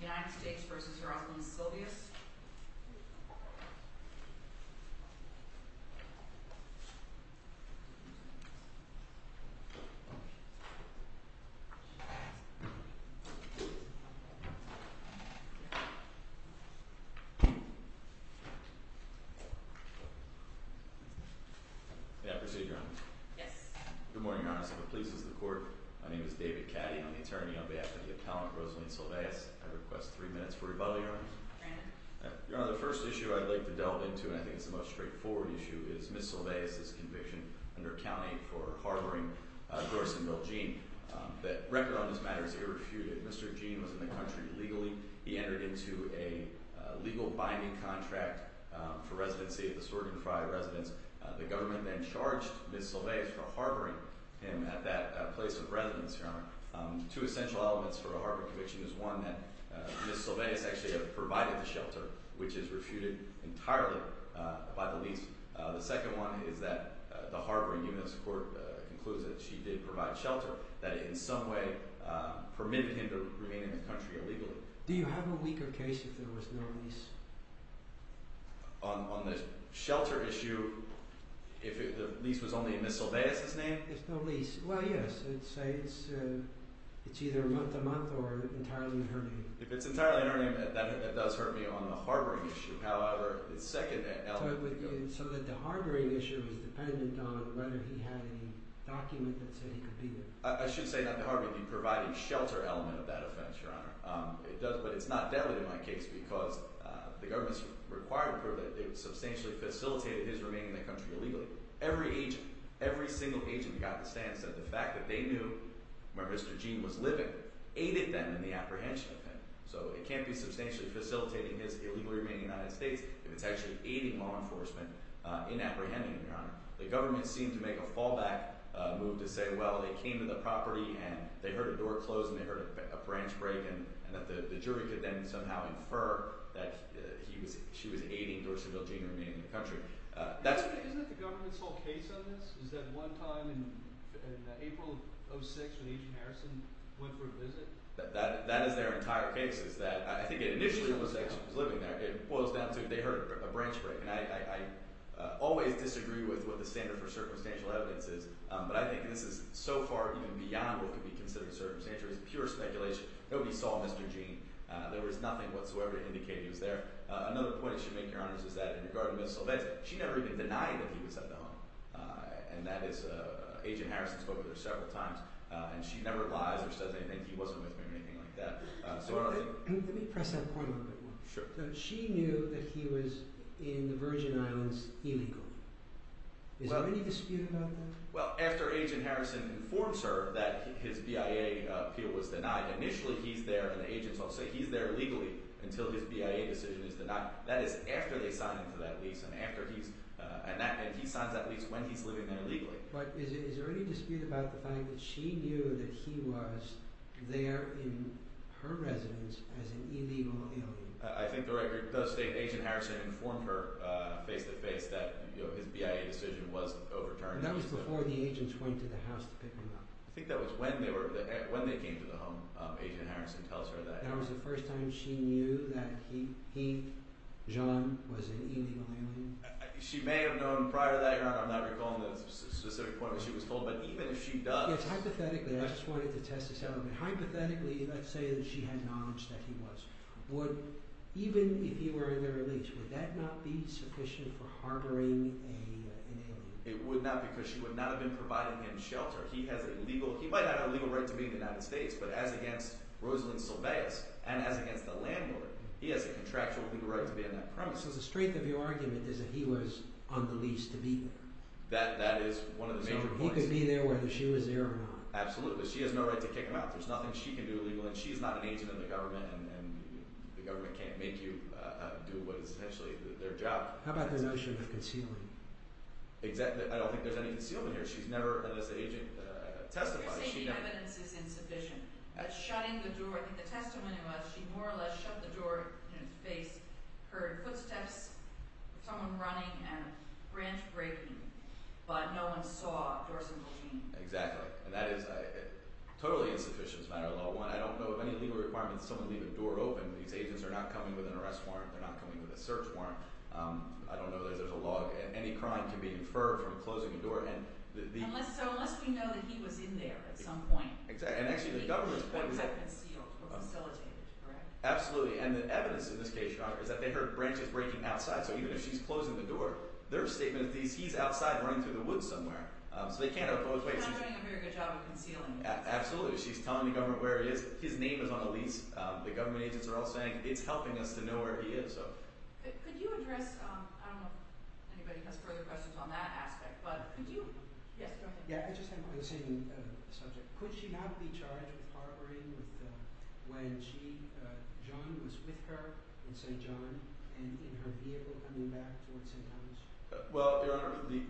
United States v. Rosalyn Silveus May I proceed, Your Honor? Good morning, Your Honor. So the police is the court. My name is David Caddy. I'm the attorney on behalf of the appellant, Rosalyn Silveus. I request three minutes for rebuttal, Your Honor. Your Honor, the first issue I'd like to delve into, and I think it's the most straightforward issue, is Ms. Silveus' conviction under county for harboring Joyce and Bill Jean. The record on this matter is irrefuted. Mr. Jean was in the country legally. He entered into a legal binding contract for residency at the Swerden Fry residence. The government then charged Ms. Silveus for harboring him at that place of residence, Your Honor. Two essential elements for a harboring conviction is one, that Ms. Silveus actually provided the shelter, which is refuted entirely by the lease. The second one is that the harboring unit's court concludes that she did provide shelter that in some way permitted him to remain in the country illegally. Do you have a weaker case if there was no lease? On the shelter issue, if the lease was only in Ms. Silveus' name? If no lease, well, yes. I'd say it's either a month-to-month or entirely in her name. If it's entirely in her name, that does hurt me on the harboring issue. However, the second element would be— So that the harboring issue is dependent on whether he had any document that said he could be there. I should say not the harboring. He provided shelter element of that offense, Your Honor. But it's not deadly in my case because the government's required proof that it substantially facilitated his remaining in the country illegally. Every agent, every single agent got the stance that the fact that they knew where Mr. Jean was living aided them in the apprehension of him. So it can't be substantially facilitating his illegal remaining in the United States if it's actually aiding law enforcement in apprehending him, Your Honor. The government seemed to make a fallback move to say, well, they came to the property and they heard a door close and they heard a branch break, and that the jury could then somehow infer that she was aiding Doris Seville Jean in remaining in the country. Isn't that the government's whole case on this? Is that one time in April of 2006 when Agent Harrison went for a visit? That is their entire case. I think it initially was that she was living there. It boils down to they heard a branch break. And I always disagree with what the standard for circumstantial evidence is. But I think this is so far even beyond what could be considered circumstantial. It's pure speculation. Nobody saw Mr. Jean. There was nothing whatsoever indicating he was there. Another point I should make, Your Honor, is that in regard to Ms. Silvetti, she never even denied that he was at the home. And that is, Agent Harrison spoke with her several times, and she never lies or says anything. He wasn't with me or anything like that. Let me press that point a little bit more. She knew that he was in the Virgin Islands illegally. Is there any dispute about that? Well, after Agent Harrison informs her that his BIA appeal was denied, initially he's there, and the agents all say he's there legally until his BIA decision is denied. That is after they sign him for that lease, and he signs that lease when he's living there legally. But is there any dispute about the fact that she knew that he was there in her residence as an illegal alien? I think the record does state Agent Harrison informed her face-to-face that his BIA decision was overturned. That was before the agents went to the house to pick him up. I think that was when they came to the home, Agent Harrison tells her that. That was the first time she knew that he, Jean, was an illegal alien? She may have known prior to that, Your Honor. I'm not recalling the specific point that she was told, but even if she does— Yes, hypothetically—I just wanted to test this out a little bit— hypothetically, let's say that she had knowledge that he was. Would—even if he were in their lease, would that not be sufficient for harboring an alien? It would not because she would not have been providing him shelter. He has a legal—he might not have a legal right to be in the United States, but as against Rosalynn Silveas and as against the landlord, he has a contractual legal right to be on that premise. So the strength of your argument is that he was on the lease to be there? That is one of the major points. So he could be there whether she was there or not? Absolutely, but she has no right to kick him out. There's nothing she can do legally, and she's not an agent in the government, and the government can't make you do what is essentially their job. How about the notion of concealing? Exactly—I don't think there's any concealing here. She's never, as an agent, testified. You're saying the evidence is insufficient. Shutting the door—I think the testimony was she more or less shut the door in his face, heard footsteps, someone running, and a branch breaking, but no one saw Dorson Bullsheen? Exactly, and that is totally insufficient as a matter of law. One, I don't know of any legal requirement that someone leave a door open. These agents are not coming with an arrest warrant. They're not coming with a search warrant. I don't know that there's a log. Any crime can be inferred from closing a door, and the— So unless we know that he was in there at some point. Exactly, and actually the government— The points have been sealed or facilitated, correct? Absolutely, and the evidence in this case, Your Honor, is that they heard branches breaking outside, so even if she's closing the door, their statement is he's outside running through the woods somewhere. So they can't have closed— She's not doing a very good job of concealing this. Absolutely. She's telling the government where he is. His name is on the lease. The government agents are all saying it's helping us to know where he is. Could you address—I don't know if anybody has further questions on that aspect, but could you— Yes, go ahead. Yeah, I just have one on the same subject. Could she not be charged with harboring when John was with her in St. John and in her vehicle coming back towards St. Thomas? Well, Your Honor, the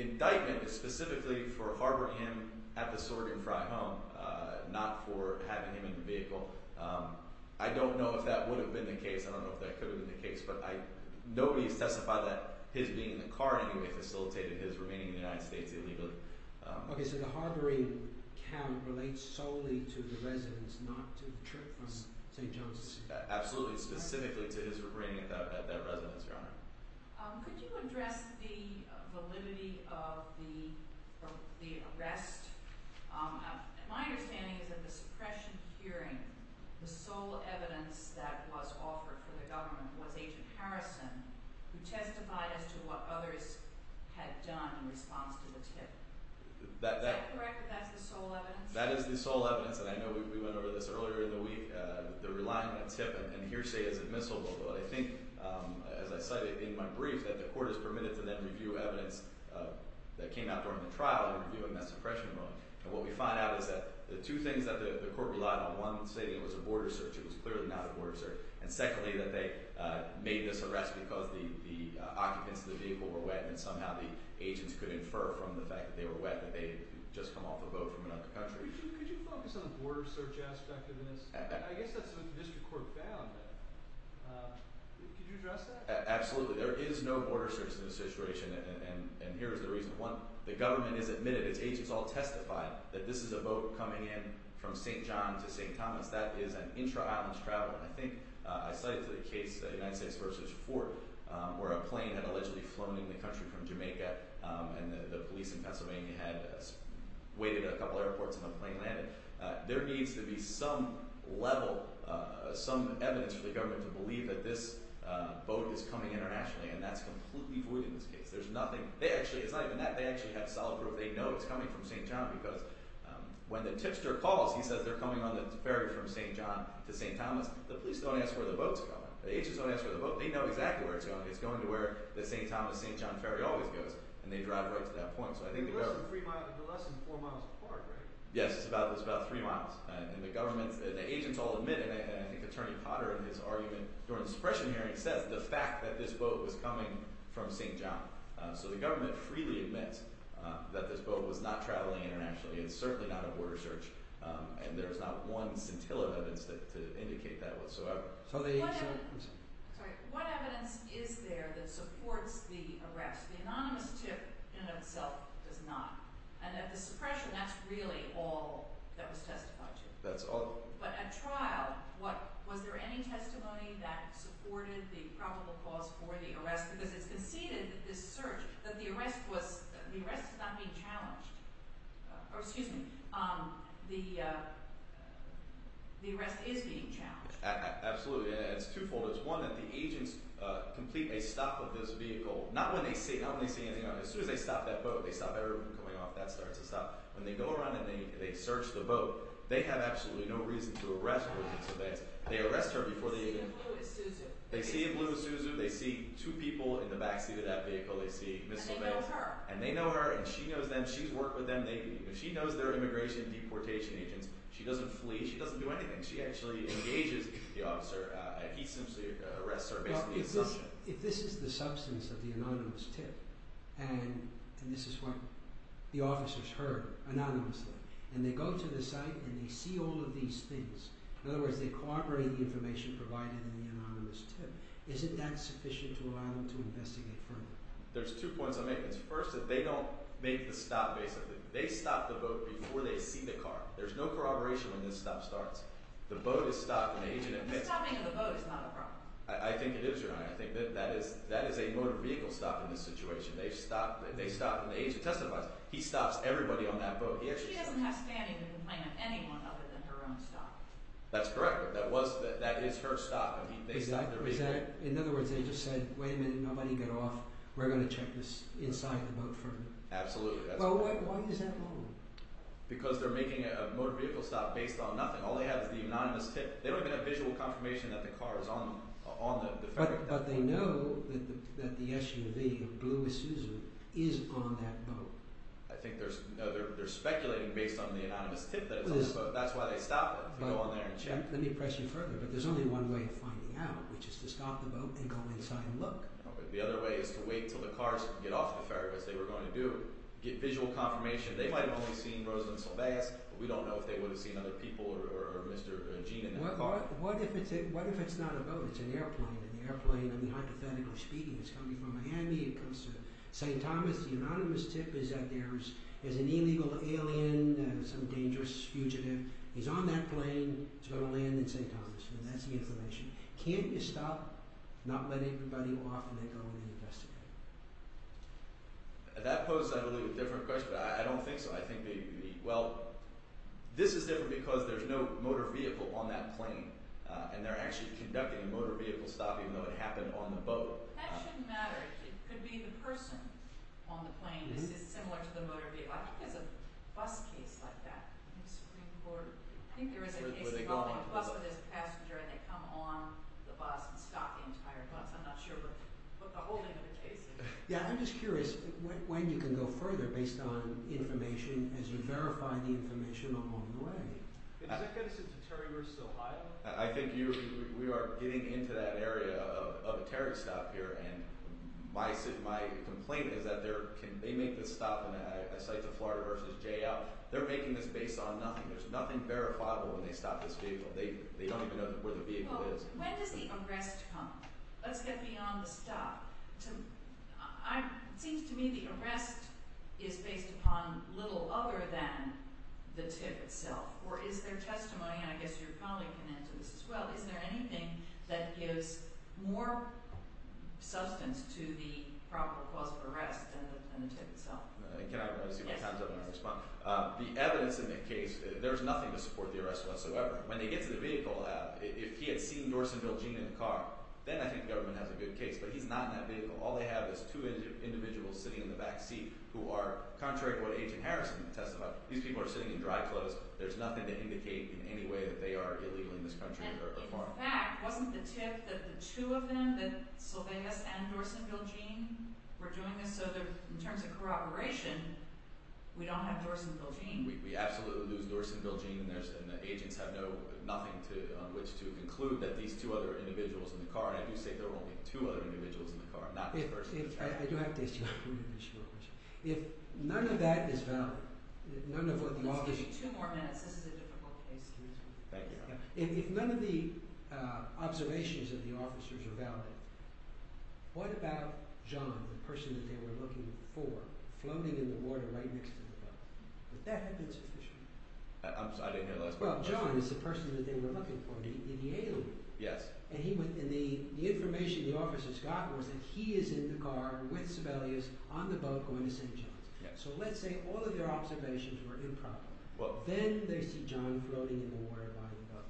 indictment is specifically for harboring him at the sorting fry home, not for having him in the vehicle. I don't know if that would have been the case. I don't know if that could have been the case, but nobody has testified that his being in the car anyway facilitated his remaining in the United States illegally. Okay, so the harboring count relates solely to the residence, not to the trip from St. John? Absolutely, specifically to his remaining at that residence, Your Honor. Could you address the validity of the arrest? My understanding is that the suppression hearing, the sole evidence that was offered for the government was Agent Harrison, who testified as to what others had done in response to the tip. Is that correct that that's the sole evidence? That is the sole evidence, and I know we went over this earlier in the week. The reliance on tip and hearsay is admissible, but I think, as I cited in my brief, that the court is permitted to then review evidence that came out during the trial and review in that suppression room. And what we find out is that the two things that the court relied on, one saying it was a border search, it was clearly not a border search, and secondly that they made this arrest because the occupants of the vehicle were wet and somehow the agents could infer from the fact that they were wet that they had just come off a boat from another country. Could you focus on the border search aspect of this? I guess that's what the district court found. Could you address that? Absolutely. There is no border search in this situation, and here is the reason. One, the government has admitted, its agents all testified, that this is a boat coming in from St. John to St. Thomas. That is an intra-islands travel. I think I cited the case, the United States versus Fort, where a plane had allegedly flown in the country from Jamaica and the police in Pennsylvania had waited a couple airports and the plane landed. There needs to be some level, some evidence for the government to believe that this boat is coming internationally, and that's completely void in this case. There's nothing. It's not even that. They actually have solid proof. They know it's coming from St. John because when the tipster calls, he says they're coming on the ferry from St. John to St. Thomas. The police don't ask where the boat's going. The agents don't ask where the boat's going. They know exactly where it's going. It's going to where the St. Thomas-St. John ferry always goes, and they drive right to that point. So I think the government— It's less than four miles apart, right? Yes, it's about three miles. The agents all admit it, and I think Attorney Potter in his argument during the suppression hearing says the fact that this boat was coming from St. John. So the government freely admits that this boat was not traveling internationally. It's certainly not a border search, and there's not one scintilla evidence to indicate that whatsoever. What evidence is there that supports the arrest? The anonymous tip in and of itself does not. And at the suppression, that's really all that was testified to. That's all. But at trial, was there any testimony that supported the probable cause for the arrest? Because it's conceded that this search, that the arrest was— the arrest is not being challenged. Oh, excuse me. The arrest is being challenged. Absolutely. It's two-fold. It's one that the agents complete a stop of this vehicle. Not when they see anything. As soon as they stop that boat, they stop everyone coming off that start to stop. When they go around and they search the boat, they have absolutely no reason to arrest Ms. Evans. They arrest her before they even— They see a blue Isuzu. They see a blue Isuzu. They see two people in the backseat of that vehicle. They see Ms. Evans. And they know her. And they know her, and she knows them. She's worked with them. She knows their immigration and deportation agents. She doesn't flee. She doesn't do anything. She actually engages the officer, and he simply arrests her based on the assumption. If this is the substance of the anonymous tip, and this is what the officers heard anonymously, and they go to the site and they see all of these things— in other words, they corroborate the information provided in the anonymous tip— isn't that sufficient to allow them to investigate further? There's two points I make. It's first that they don't make the stop, basically. They stop the boat before they see the car. There's no corroboration when this stop starts. The boat is stopped, and the agent— The stopping of the boat is not a problem. I think it is, Your Honor. I think that is a motor vehicle stop in this situation. They stop, and the agent testifies. He stops everybody on that boat. She doesn't have standing to complain of anyone other than her own stop. That's correct. That is her stop. In other words, they just said, Wait a minute, nobody get off. We're going to check this inside the boat further. Absolutely. Why is that wrong? Because they're making a motor vehicle stop based on nothing. All they have is the anonymous tip. They don't get a visual confirmation that the car is on the ferry. But they know that the SUV, a blue Isuzu, is on that boat. I think they're speculating based on the anonymous tip that it's on the boat. That's why they stop it, to go on there and check. Let me press you further, but there's only one way of finding out, which is to stop the boat and go inside and look. The other way is to wait until the cars get off the ferry, as they were going to do, get visual confirmation. They might have only seen Rosalynn Silvestre, but we don't know if they would have seen other people, or Mr. Jean in that car. What if it's not a boat? It's an airplane, and the airplane, hypothetically speaking, is coming from Miami and comes to St. Thomas. The anonymous tip is that there's an illegal alien, some dangerous fugitive. He's on that plane. He's going to land in St. Thomas. That's the information. Can't you stop, not let anybody off, and then go and investigate? That poses, I believe, a different question. I don't think so. I think, well, this is different because there's no motor vehicle on that plane, and they're actually conducting a motor vehicle stop, even though it happened on the boat. That shouldn't matter. It could be the person on the plane. This is similar to the motor vehicle. I think there's a bus case like that. I think there was a case involving a bus where there's a passenger, and they come on the bus and stop the entire bus. I'm not sure what the whole name of the case is. Yeah, I'm just curious when you can go further based on information as you verify the information along the way. Is that going to send to Terry vs. Ohio? I think we are getting into that area of a Terry stop here, and my complaint is that they make this stop at sites of Florida vs. JL. They're making this based on nothing. There's nothing verifiable when they stop this vehicle. They don't even know where the vehicle is. When does the arrest come? Let's get beyond the stop. It seems to me the arrest is based upon little other than the tip itself, or is there testimony, and I guess your colleague can answer this as well, is there anything that gives more substance to the proper cause of arrest than the tip itself? Can I see my hands up when I respond? The evidence in the case, there's nothing to support the arrest whatsoever. When they get to the vehicle, if he had seen Dorsen-Bilgeen in the car, then I think the government has a good case. But he's not in that vehicle. All they have is two individuals sitting in the back seat who are, contrary to what Agent Harrison can attest about, these people are sitting in dry clothes. There's nothing to indicate in any way that they are illegal in this country. And in fact, wasn't the tip that the two of them, that Solveigas and Dorsen-Bilgeen, were doing this? So in terms of corroboration, we don't have Dorsen-Bilgeen. We absolutely lose Dorsen-Bilgeen, and the agents have nothing on which to conclude that these two other individuals are in the car. And I do say there were only two other individuals in the car, not this person. I do have to ask you a three-individual question. If none of that is valid, none of what the officers – Let's give you two more minutes. This is a difficult case. Thank you. If none of the observations of the officers are valid, what about John, the person that they were looking for, floating in the water right next to the boat? Would that have been sufficient? I didn't hear the last part of the question. Well, John is the person that they were looking for in the aileron. Yes. And the information the officers got was that he is in the car with Solveigas on the boat going to St. John's. Yes. So let's say all of their observations were improper. Well – Then they see John floating in the water by the boat.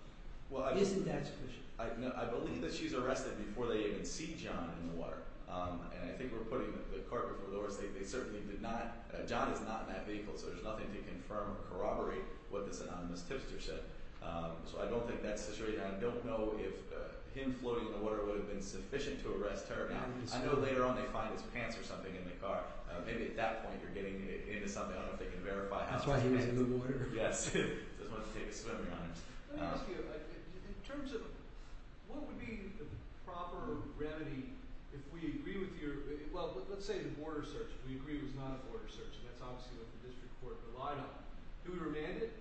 Well, I – Isn't that sufficient? I believe that she's arrested before they even see John in the water. And I think we're putting the carpet before the horse. They certainly did not – John is not in that vehicle, so there's nothing to confirm or corroborate what this anonymous tipster said. So I don't think that's sufficient. I don't know if him floating in the water would have been sufficient to arrest her. I know later on they find his pants or something in the car. Maybe at that point you're getting into something. I don't know if they can verify how – That's why he was in the water. Yes. He doesn't want to take a swimming honor. Let me ask you, in terms of what would be the proper remedy if we agree with your – Well, let's say the border search we agree was not a border search, and that's obviously what the district court relied on. Do we remand it?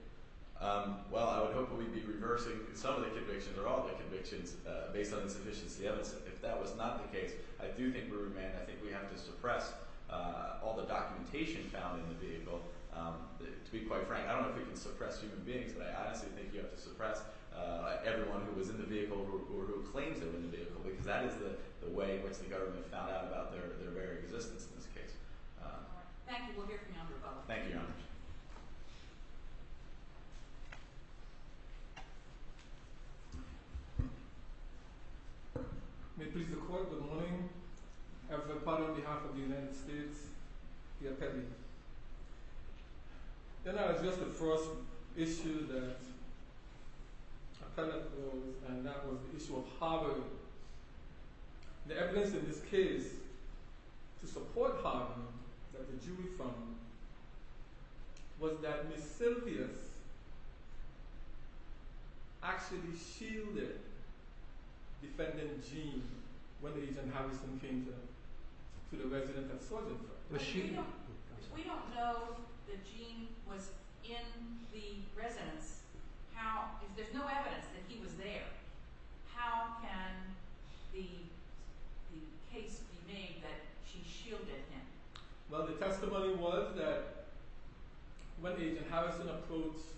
Well, I would hope that we'd be reversing some of the convictions or all of the convictions based on insufficiency evidence. If that was not the case, I do think we remand it. I think we have to suppress all the documentation found in the vehicle. To be quite frank, I don't know if we can suppress human beings, but I honestly think you have to suppress everyone who was in the vehicle or who claims they were in the vehicle because that is the way in which the government found out about their very existence in this case. Thank you. We'll hear from you on the rebuttal. Thank you, Your Honor. May it please the Court, good morning. I'm from the Parliament on behalf of the United States. Pierre Petit. Then I'll address the first issue that appellant posed, and that was the issue of Harvard. The evidence in this case to support Harvard that the jury found was that Ms. Silpius actually shielded defendant Jean when Agent Harrison came to the Residential Surgery Department. We don't know that Jean was in the residence. There's no evidence that he was there. How can the case be made that she shielded him? Well, the testimony was that when Agent Harrison approached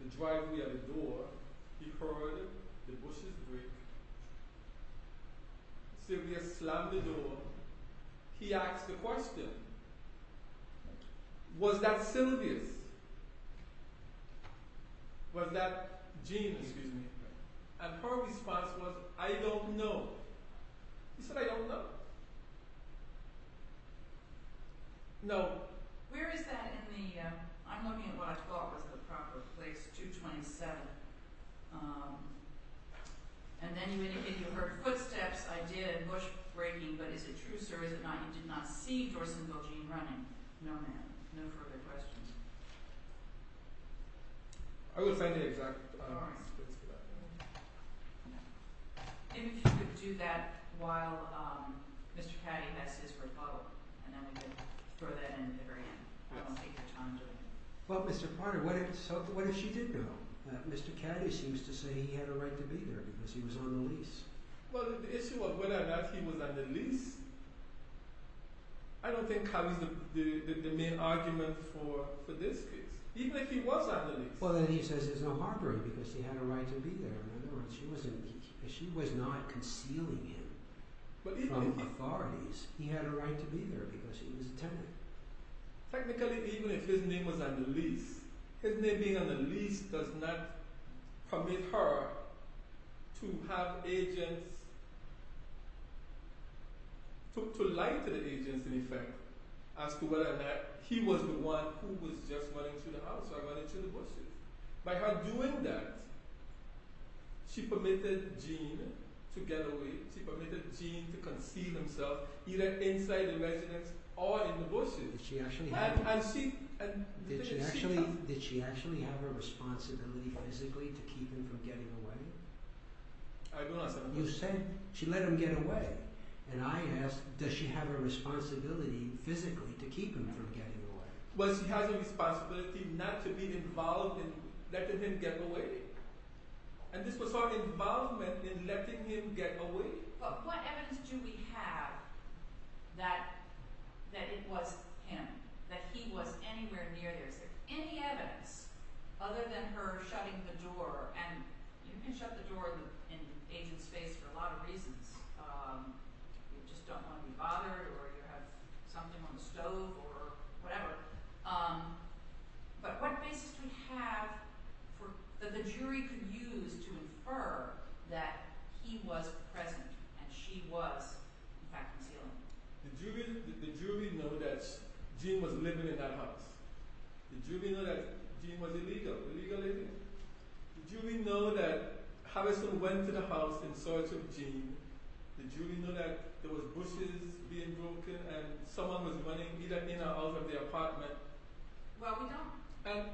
the driveway and the door, he heard the bushes break. Silpius slammed the door. He asked the question, was that Silpius? Was that Jean, excuse me? And her response was, I don't know. He said, I don't know. No. Where is that in the, I'm looking at what I thought was the proper place, 227. And then you indicated you heard footsteps. I did. Bush breaking. But is it true, sir? Is it not you did not see Dorsonville Jean running? No, ma'am. No further questions. I would say the exact opposite of that. Maybe if you could do that while Mr. Caddy has his rebuttal, and then we could throw that in at the very end. I don't want to take your time doing it. Well, Mr. Carter, what if she did know? Mr. Caddy seems to say he had a right to be there because he was on the lease. Well, the issue of whether or not he was on the lease, I don't think that was the main argument for this case. Even if he was on the lease. Well, then he says there's no harboring because he had a right to be there. In other words, she was not concealing him from authorities. He had a right to be there because he was a tenant. Technically, even if his name was on the lease, his name being on the lease does not permit her to have agents, to lie to the agents, in effect, as to whether or not he was the one who was just running to the house or running to the bus station. By her doing that, she permitted Jean to get away. She permitted Jean to conceal himself either inside the residence or in the buses. Did she actually have a responsibility physically to keep him from getting away? I do not say that. You said she let him get away. And I ask, does she have a responsibility physically to keep him from getting away? Well, she has a responsibility not to be involved in letting him get away. And this was her involvement in letting him get away? But what evidence do we have that it was him, that he was anywhere near there? Is there any evidence other than her shutting the door? And you can shut the door in an agent's face for a lot of reasons. You just don't want to be bothered or you have something on the stove or whatever. But what basis do we have that the jury could use to infer that he was present and she was in fact concealing? Did the jury know that Jean was living in that house? Did the jury know that Jean was illegal, illegal living? Did the jury know that Harrison went to the house in search of Jean? Did the jury know that there was bushes being broken and someone was running either in or out of the apartment? Well, we don't. I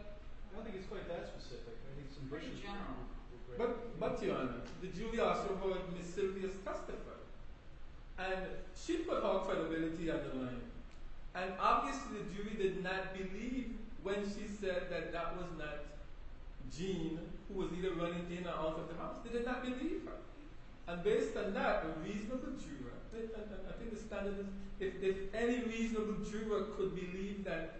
don't think it's quite that specific. It's pretty general. But, but your Honor, the jury also heard Ms. Silvia's testimony. And she put all credibility on the line. And obviously the jury did not believe when she said that that was not Jean who was either running in or out of the house. They did not believe her. And based on that, a reasonable juror, I think the standard is if any reasonable juror could believe that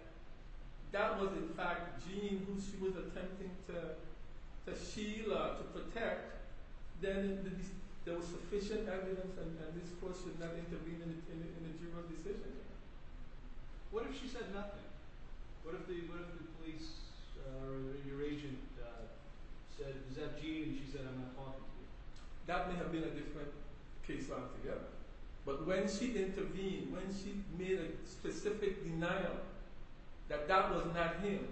that was in fact Jean who she was attempting to shield or to protect, then there was sufficient evidence and this Court should not intervene in a juror's decision. What if she said nothing? What if the police or your agent said, is that Jean? And she said, I'm not talking to you. That may have been a different case altogether. But when she intervened, when she made a specific denial that that was not him,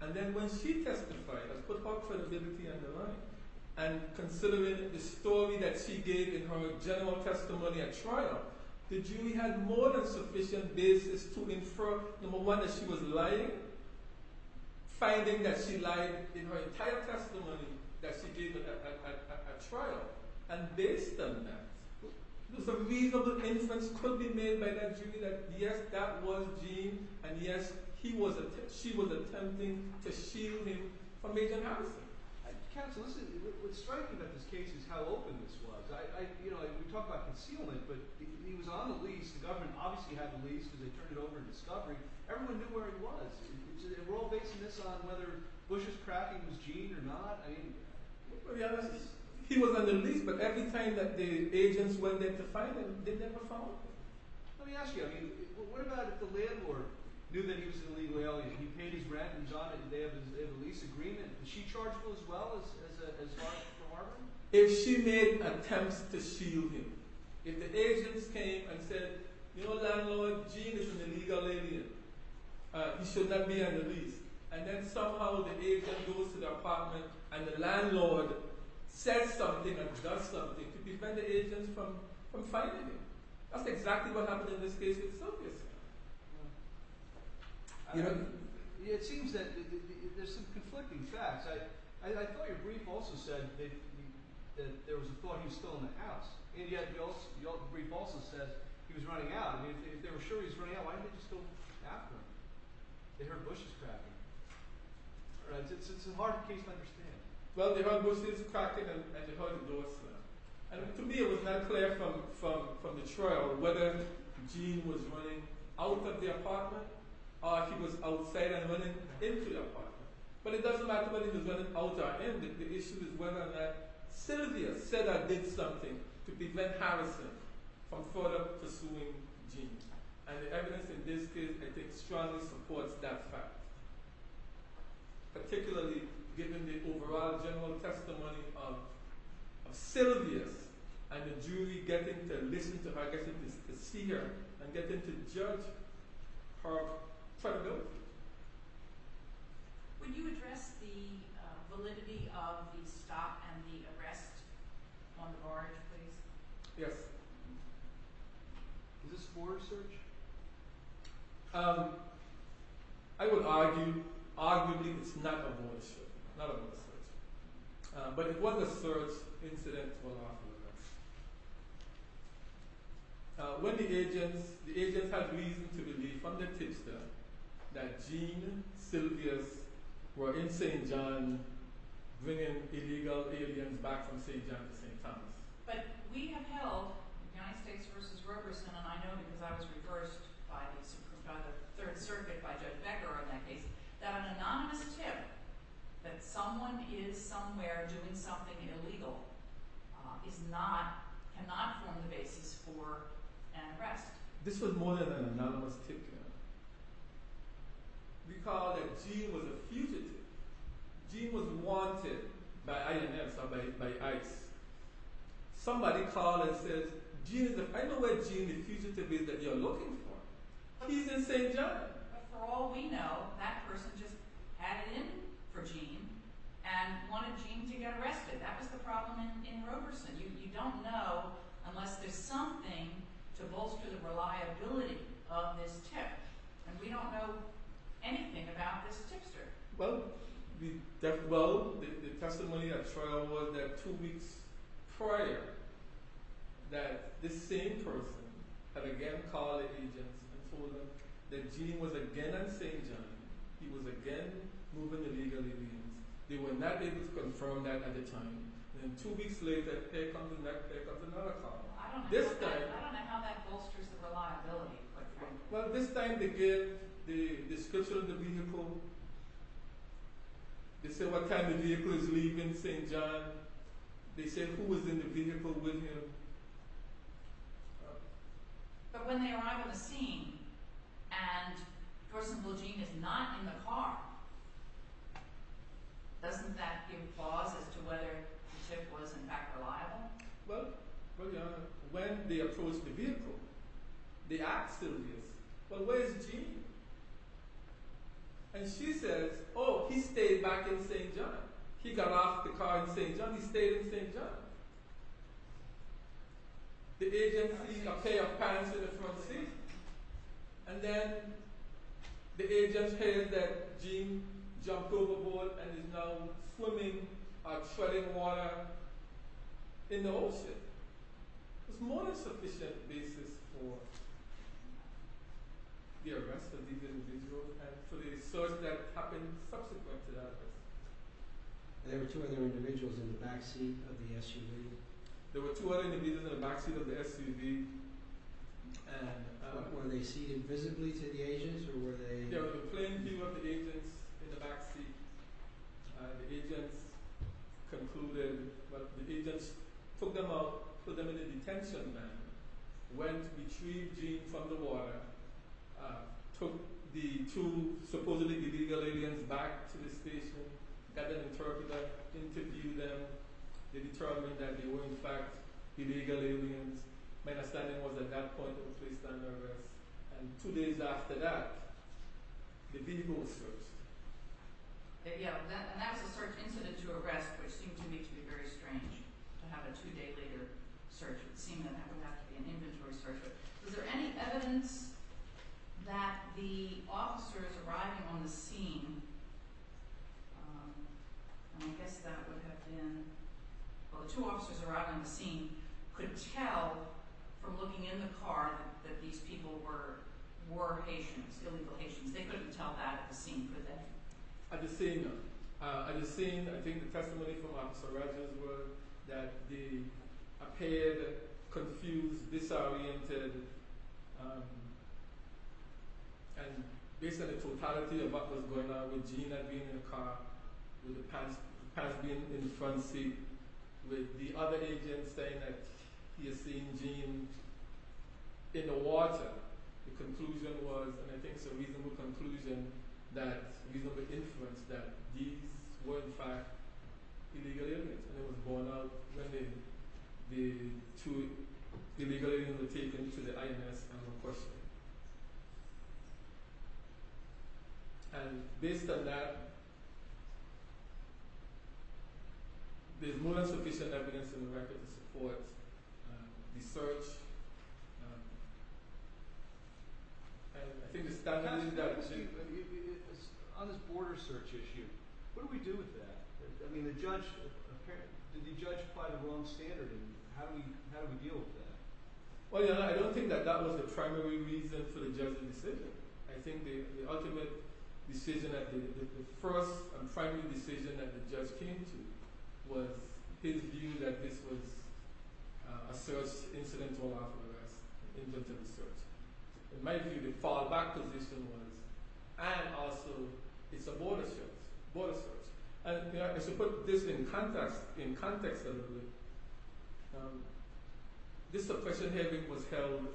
and then when she testified and put all credibility on the line, and considering the story that she gave in her general testimony at trial, the jury had more than sufficient basis to infer, number one, that she was lying, finding that she lied in her entire testimony that she gave at trial. And based on that, there's a reasonable inference could be made by that jury that yes, that was Jean, and yes, she was attempting to shield him from Agent Harrison. Counsel, what's striking about this case is how open this was. We talked about concealment, but he was on the lease. The government obviously had the lease because they turned it over in discovery. Everyone knew where he was. And we're all basing this on whether Bush's cracking was Jean or not. I mean, what's the reality of this? He was on the lease, but every time that the agents went in to find him, they never found him. Let me ask you, I mean, what about if the landlord knew that he was an illegal alien? He paid his rent and he's on it and they have a lease agreement. Did she charge him as well as Hartman? If she made attempts to shield him. If the agents came and said, you know, landlord, Jean is an illegal alien. He should not be on the lease. And then somehow the agent goes to the apartment and the landlord says something and does something to prevent the agents from finding him. That's exactly what happened in this case with Silvius. It seems that there's some conflicting facts. I thought your brief also said that there was a thought he was still in the house. And yet your brief also said he was running out. If they were sure he was running out, why didn't they just go after him? They heard Bush's cracking. It's a hard case to understand. Well, they heard Bush's cracking and they heard the door slam. And to me it was not clear from the trial whether Jean was running out of the apartment or he was outside and running into the apartment. But it doesn't matter whether he was running out or in. The issue is whether or not Silvius said or did something to prevent Harrison from further pursuing Jean. And the evidence in this case, I think, strongly supports that fact. Particularly given the overall general testimony of Silvius and the jury getting to listen to her, getting to see her, and getting to judge her credibility. Would you address the validity of the stop and the arrest on Orange, please? Yes. Is this for research? I would argue, arguably, it's not for research. But it was a search incident. When the agents, the agents had reason to believe from the tipster that Jean and Silvius were in St. John bringing illegal aliens back from St. John to St. Thomas. But we have held, the United States v. Roberson, and I know because I was reversed by the Third Circuit, by Judge Becker on that case, that an anonymous tip that someone is somewhere doing something illegal cannot form the basis for an arrest. This was more than an anonymous tip. We call it Jean was a fugitive. Jean was wanted by INS or by ICE. Somebody called and said, I know where Jean the fugitive is that you're looking for. He's in St. John. For all we know, that person just had it in for Jean and wanted Jean to get arrested. That was the problem in Roberson. You don't know unless there's something to bolster the reliability of this tip. And we don't know anything about this tipster. Well, the testimony at trial was that two weeks prior that this same person had again called the agents and told them that Jean was again at St. John. He was again moving illegal aliens. They were not able to confirm that at the time. Then two weeks later, here comes another call. I don't know how that bolsters the reliability. Well, this time they get the description of the vehicle. They say what kind of vehicle is leaving St. John. They say who was in the vehicle with him. But when they arrive at the scene and person called Jean is not in the car, doesn't that give pause as to whether the tip was in fact reliable? Well, when they approach the vehicle, the ax still is. But where's Jean? And she says, oh, he stayed back in St. John. He got off the car in St. John. He stayed in St. John. The agents see a pair of pants in the front seat. And then the agents hear that Jean jumped overboard and is now swimming or treading water in the ocean. It's more than sufficient basis for the arrest of these individuals and for the search that happened subsequent to that. There were two other individuals in the back seat of the SUV. There were two other individuals in the back seat of the SUV. Were they seated visibly to the agents? There was a plain view of the agents in the back seat. The agents took them out, put them in a detention van, went to retrieve Jean from the water, took the two supposedly illegal aliens back to the station, got an interpreter, interviewed them. They determined that they were, in fact, illegal aliens. My understanding was at that point, they were placed under arrest. And two days after that, the vehicle was searched. Yeah, and that was a search incident to arrest, which seemed to me to be very strange, to have a two-day later search. It seemed that that would have to be an inventory search. Was there any evidence that the officers arriving on the scene, and I guess that would have been, well, the two officers arriving on the scene could tell from looking in the car that these people were Haitians, illegal Haitians. They couldn't tell that at the scene, could they? At the scene, no. At the scene, I think the testimony from Officer Rogers was that they appeared confused, disoriented. And based on the totality of what was going on with Jean being in the car, with the pass being in the front seat, with the other agent saying that he had seen Jean in the water, the conclusion was, and I think it's a reasonable conclusion, that, a reasonable inference, that these were, in fact, illegal aliens. And it was borne out when the two illegal aliens were taken to the IMS and were questioned. And based on that, there's more than sufficient evidence in the record to support the search. And I think the statement is that... On this border search issue, what do we do with that? I mean, the judge... Did the judge apply the wrong standard? How do we deal with that? Well, you know, I don't think that that was the primary reason for the judge's decision. I think the ultimate decision, the first and primary decision that the judge came to was his view that this was a search incident to allow for the arrest, in terms of the search. In my view, the fallback position was... And also, it's a border search. Border search. And to put this in context, this suppression hearing was held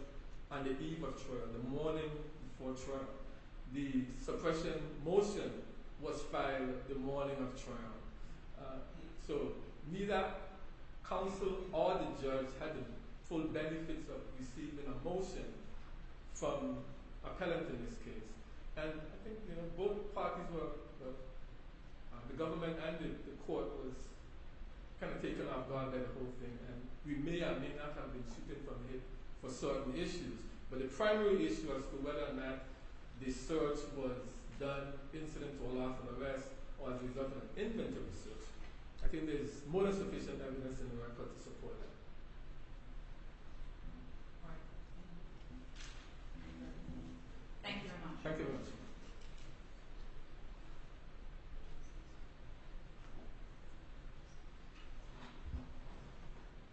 on the eve of trial, the morning before trial. The suppression motion was filed the morning of trial. So, neither counsel or the judge had the full benefits of receiving a motion from an appellant in this case. And I think both parties were... The government and the court was kind of taken off-guard by the whole thing. And we may or may not have been shooting from here for certain issues. But the primary issue as to whether or not the search was done incidentally to allow for the arrest or as a result of an intentional search, I think there's more than sufficient evidence in the record to support that. All right. Thank you very much. Thank you.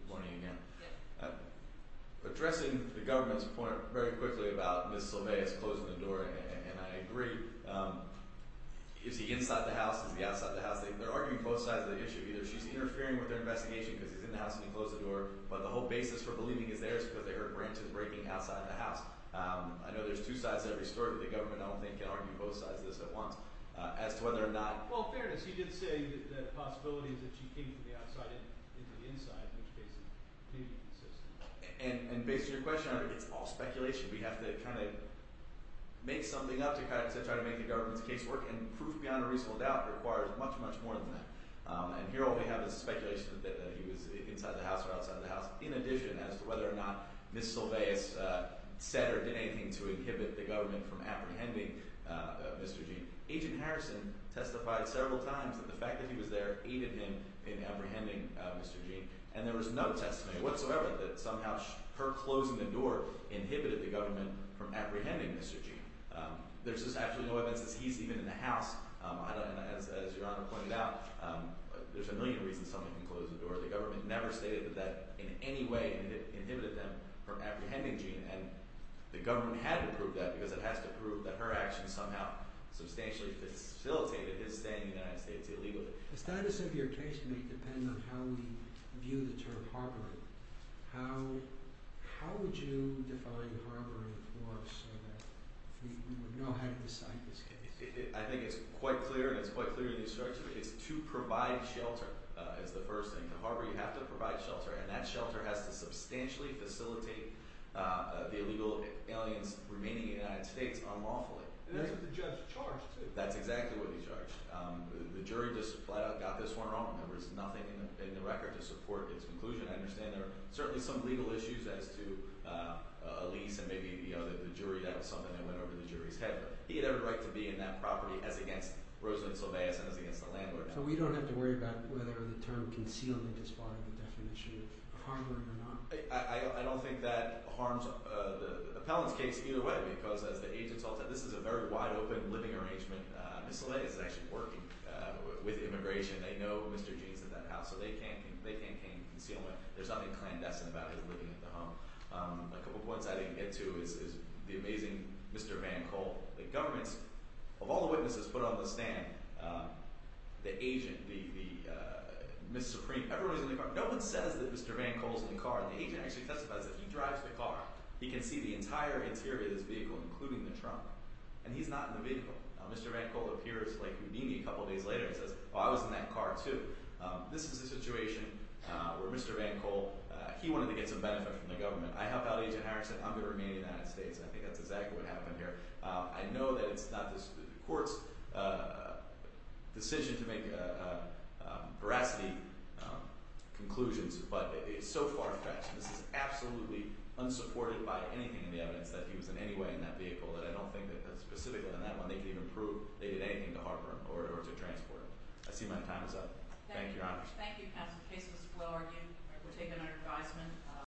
Good morning again. Yeah. Addressing the government's point very quickly about Ms. Silveia's closing the door, and I agree. Is he inside the house? Is he outside the house? They're arguing both sides of the issue. Either she's interfering with their investigation because he's in the house and he closed the door, but the whole basis for believing he's there is because they heard branches breaking outside the house. I know there's two sides to every story, but the government, I don't think, can argue both sides of this at once. As to whether or not... Well, fairness, he did say that the possibility is that she came from the outside into the inside, in which case it may be consistent. And based on your question, it's all speculation. We have to kind of make something up to try to make the government's case work, and proof beyond a reasonable doubt requires much, much more than that. And here all we have is speculation that he was inside the house or outside the house, in addition as to whether or not Ms. Silveia said or did anything to inhibit the government from apprehending Mr. Gene. Agent Harrison testified several times that the fact that he was there aided him in apprehending Mr. Gene, and there was no testimony whatsoever that somehow her closing the door inhibited the government from apprehending Mr. Gene. There's just absolutely no evidence that he's even in the house. And as Your Honor pointed out, there's a million reasons someone can close the door. The government never stated that that in any way inhibited them from apprehending Gene, and the government had to prove that because it has to prove that her action somehow substantially facilitated his stay in the United States illegally. The status of your case may depend on how we view the term harboring. How would you define harboring for us so that we would know how to decide this case? I think it's quite clear and it's quite clear in the instruction. It's to provide shelter is the first thing. To harbor, you have to provide shelter, and that shelter has to substantially facilitate the illegal aliens remaining in the United States unlawfully. And that's what the judge charged, too. That's exactly what he charged. The jury just flat out got this one wrong. There was nothing in the record to support his conclusion. I understand there are certainly some legal issues as to a lease and maybe the jury. That was something that went over the jury's head. But he had every right to be in that property as against Rosalynn Solvay as against the landlord. So we don't have to worry about whether the term concealing is part of the definition of harboring or not? I don't think that harms the appellant's case either way because, as the agents all said, this is a very wide-open living arrangement. Ms. Solvay is actually working with immigration. They know Mr. Gene is in that house, so they can't conceal him. There's nothing clandestine about his living in the home. A couple of points I didn't get to is the amazing Mr. VanCole. The government, of all the witnesses put on the stand, the agent, the Ms. Supreme, everyone is in the car. No one says that Mr. VanCole is in the car. The agent actually testifies that he drives the car. He can see the entire interior of this vehicle, including the trunk. And he's not in the vehicle. Mr. VanCole appears like a meanie a couple of days later and says, well, I was in that car, too. This is a situation where Mr. VanCole, he wanted to get some benefit from the government. I helped out Agent Harris and said, I'm going to remain in the United States. I think that's exactly what happened here. I know that it's not the court's decision to make veracity conclusions, but it's so far-fetched. This is absolutely unsupported by anything in the evidence that he was in any way in that vehicle. And I don't think that specifically in that one they can even prove they did anything to harbor him or to transport him. I see my time is up. Thank you, Your Honor. Thank you, counsel. The case was well argued. We'll take it under advisement.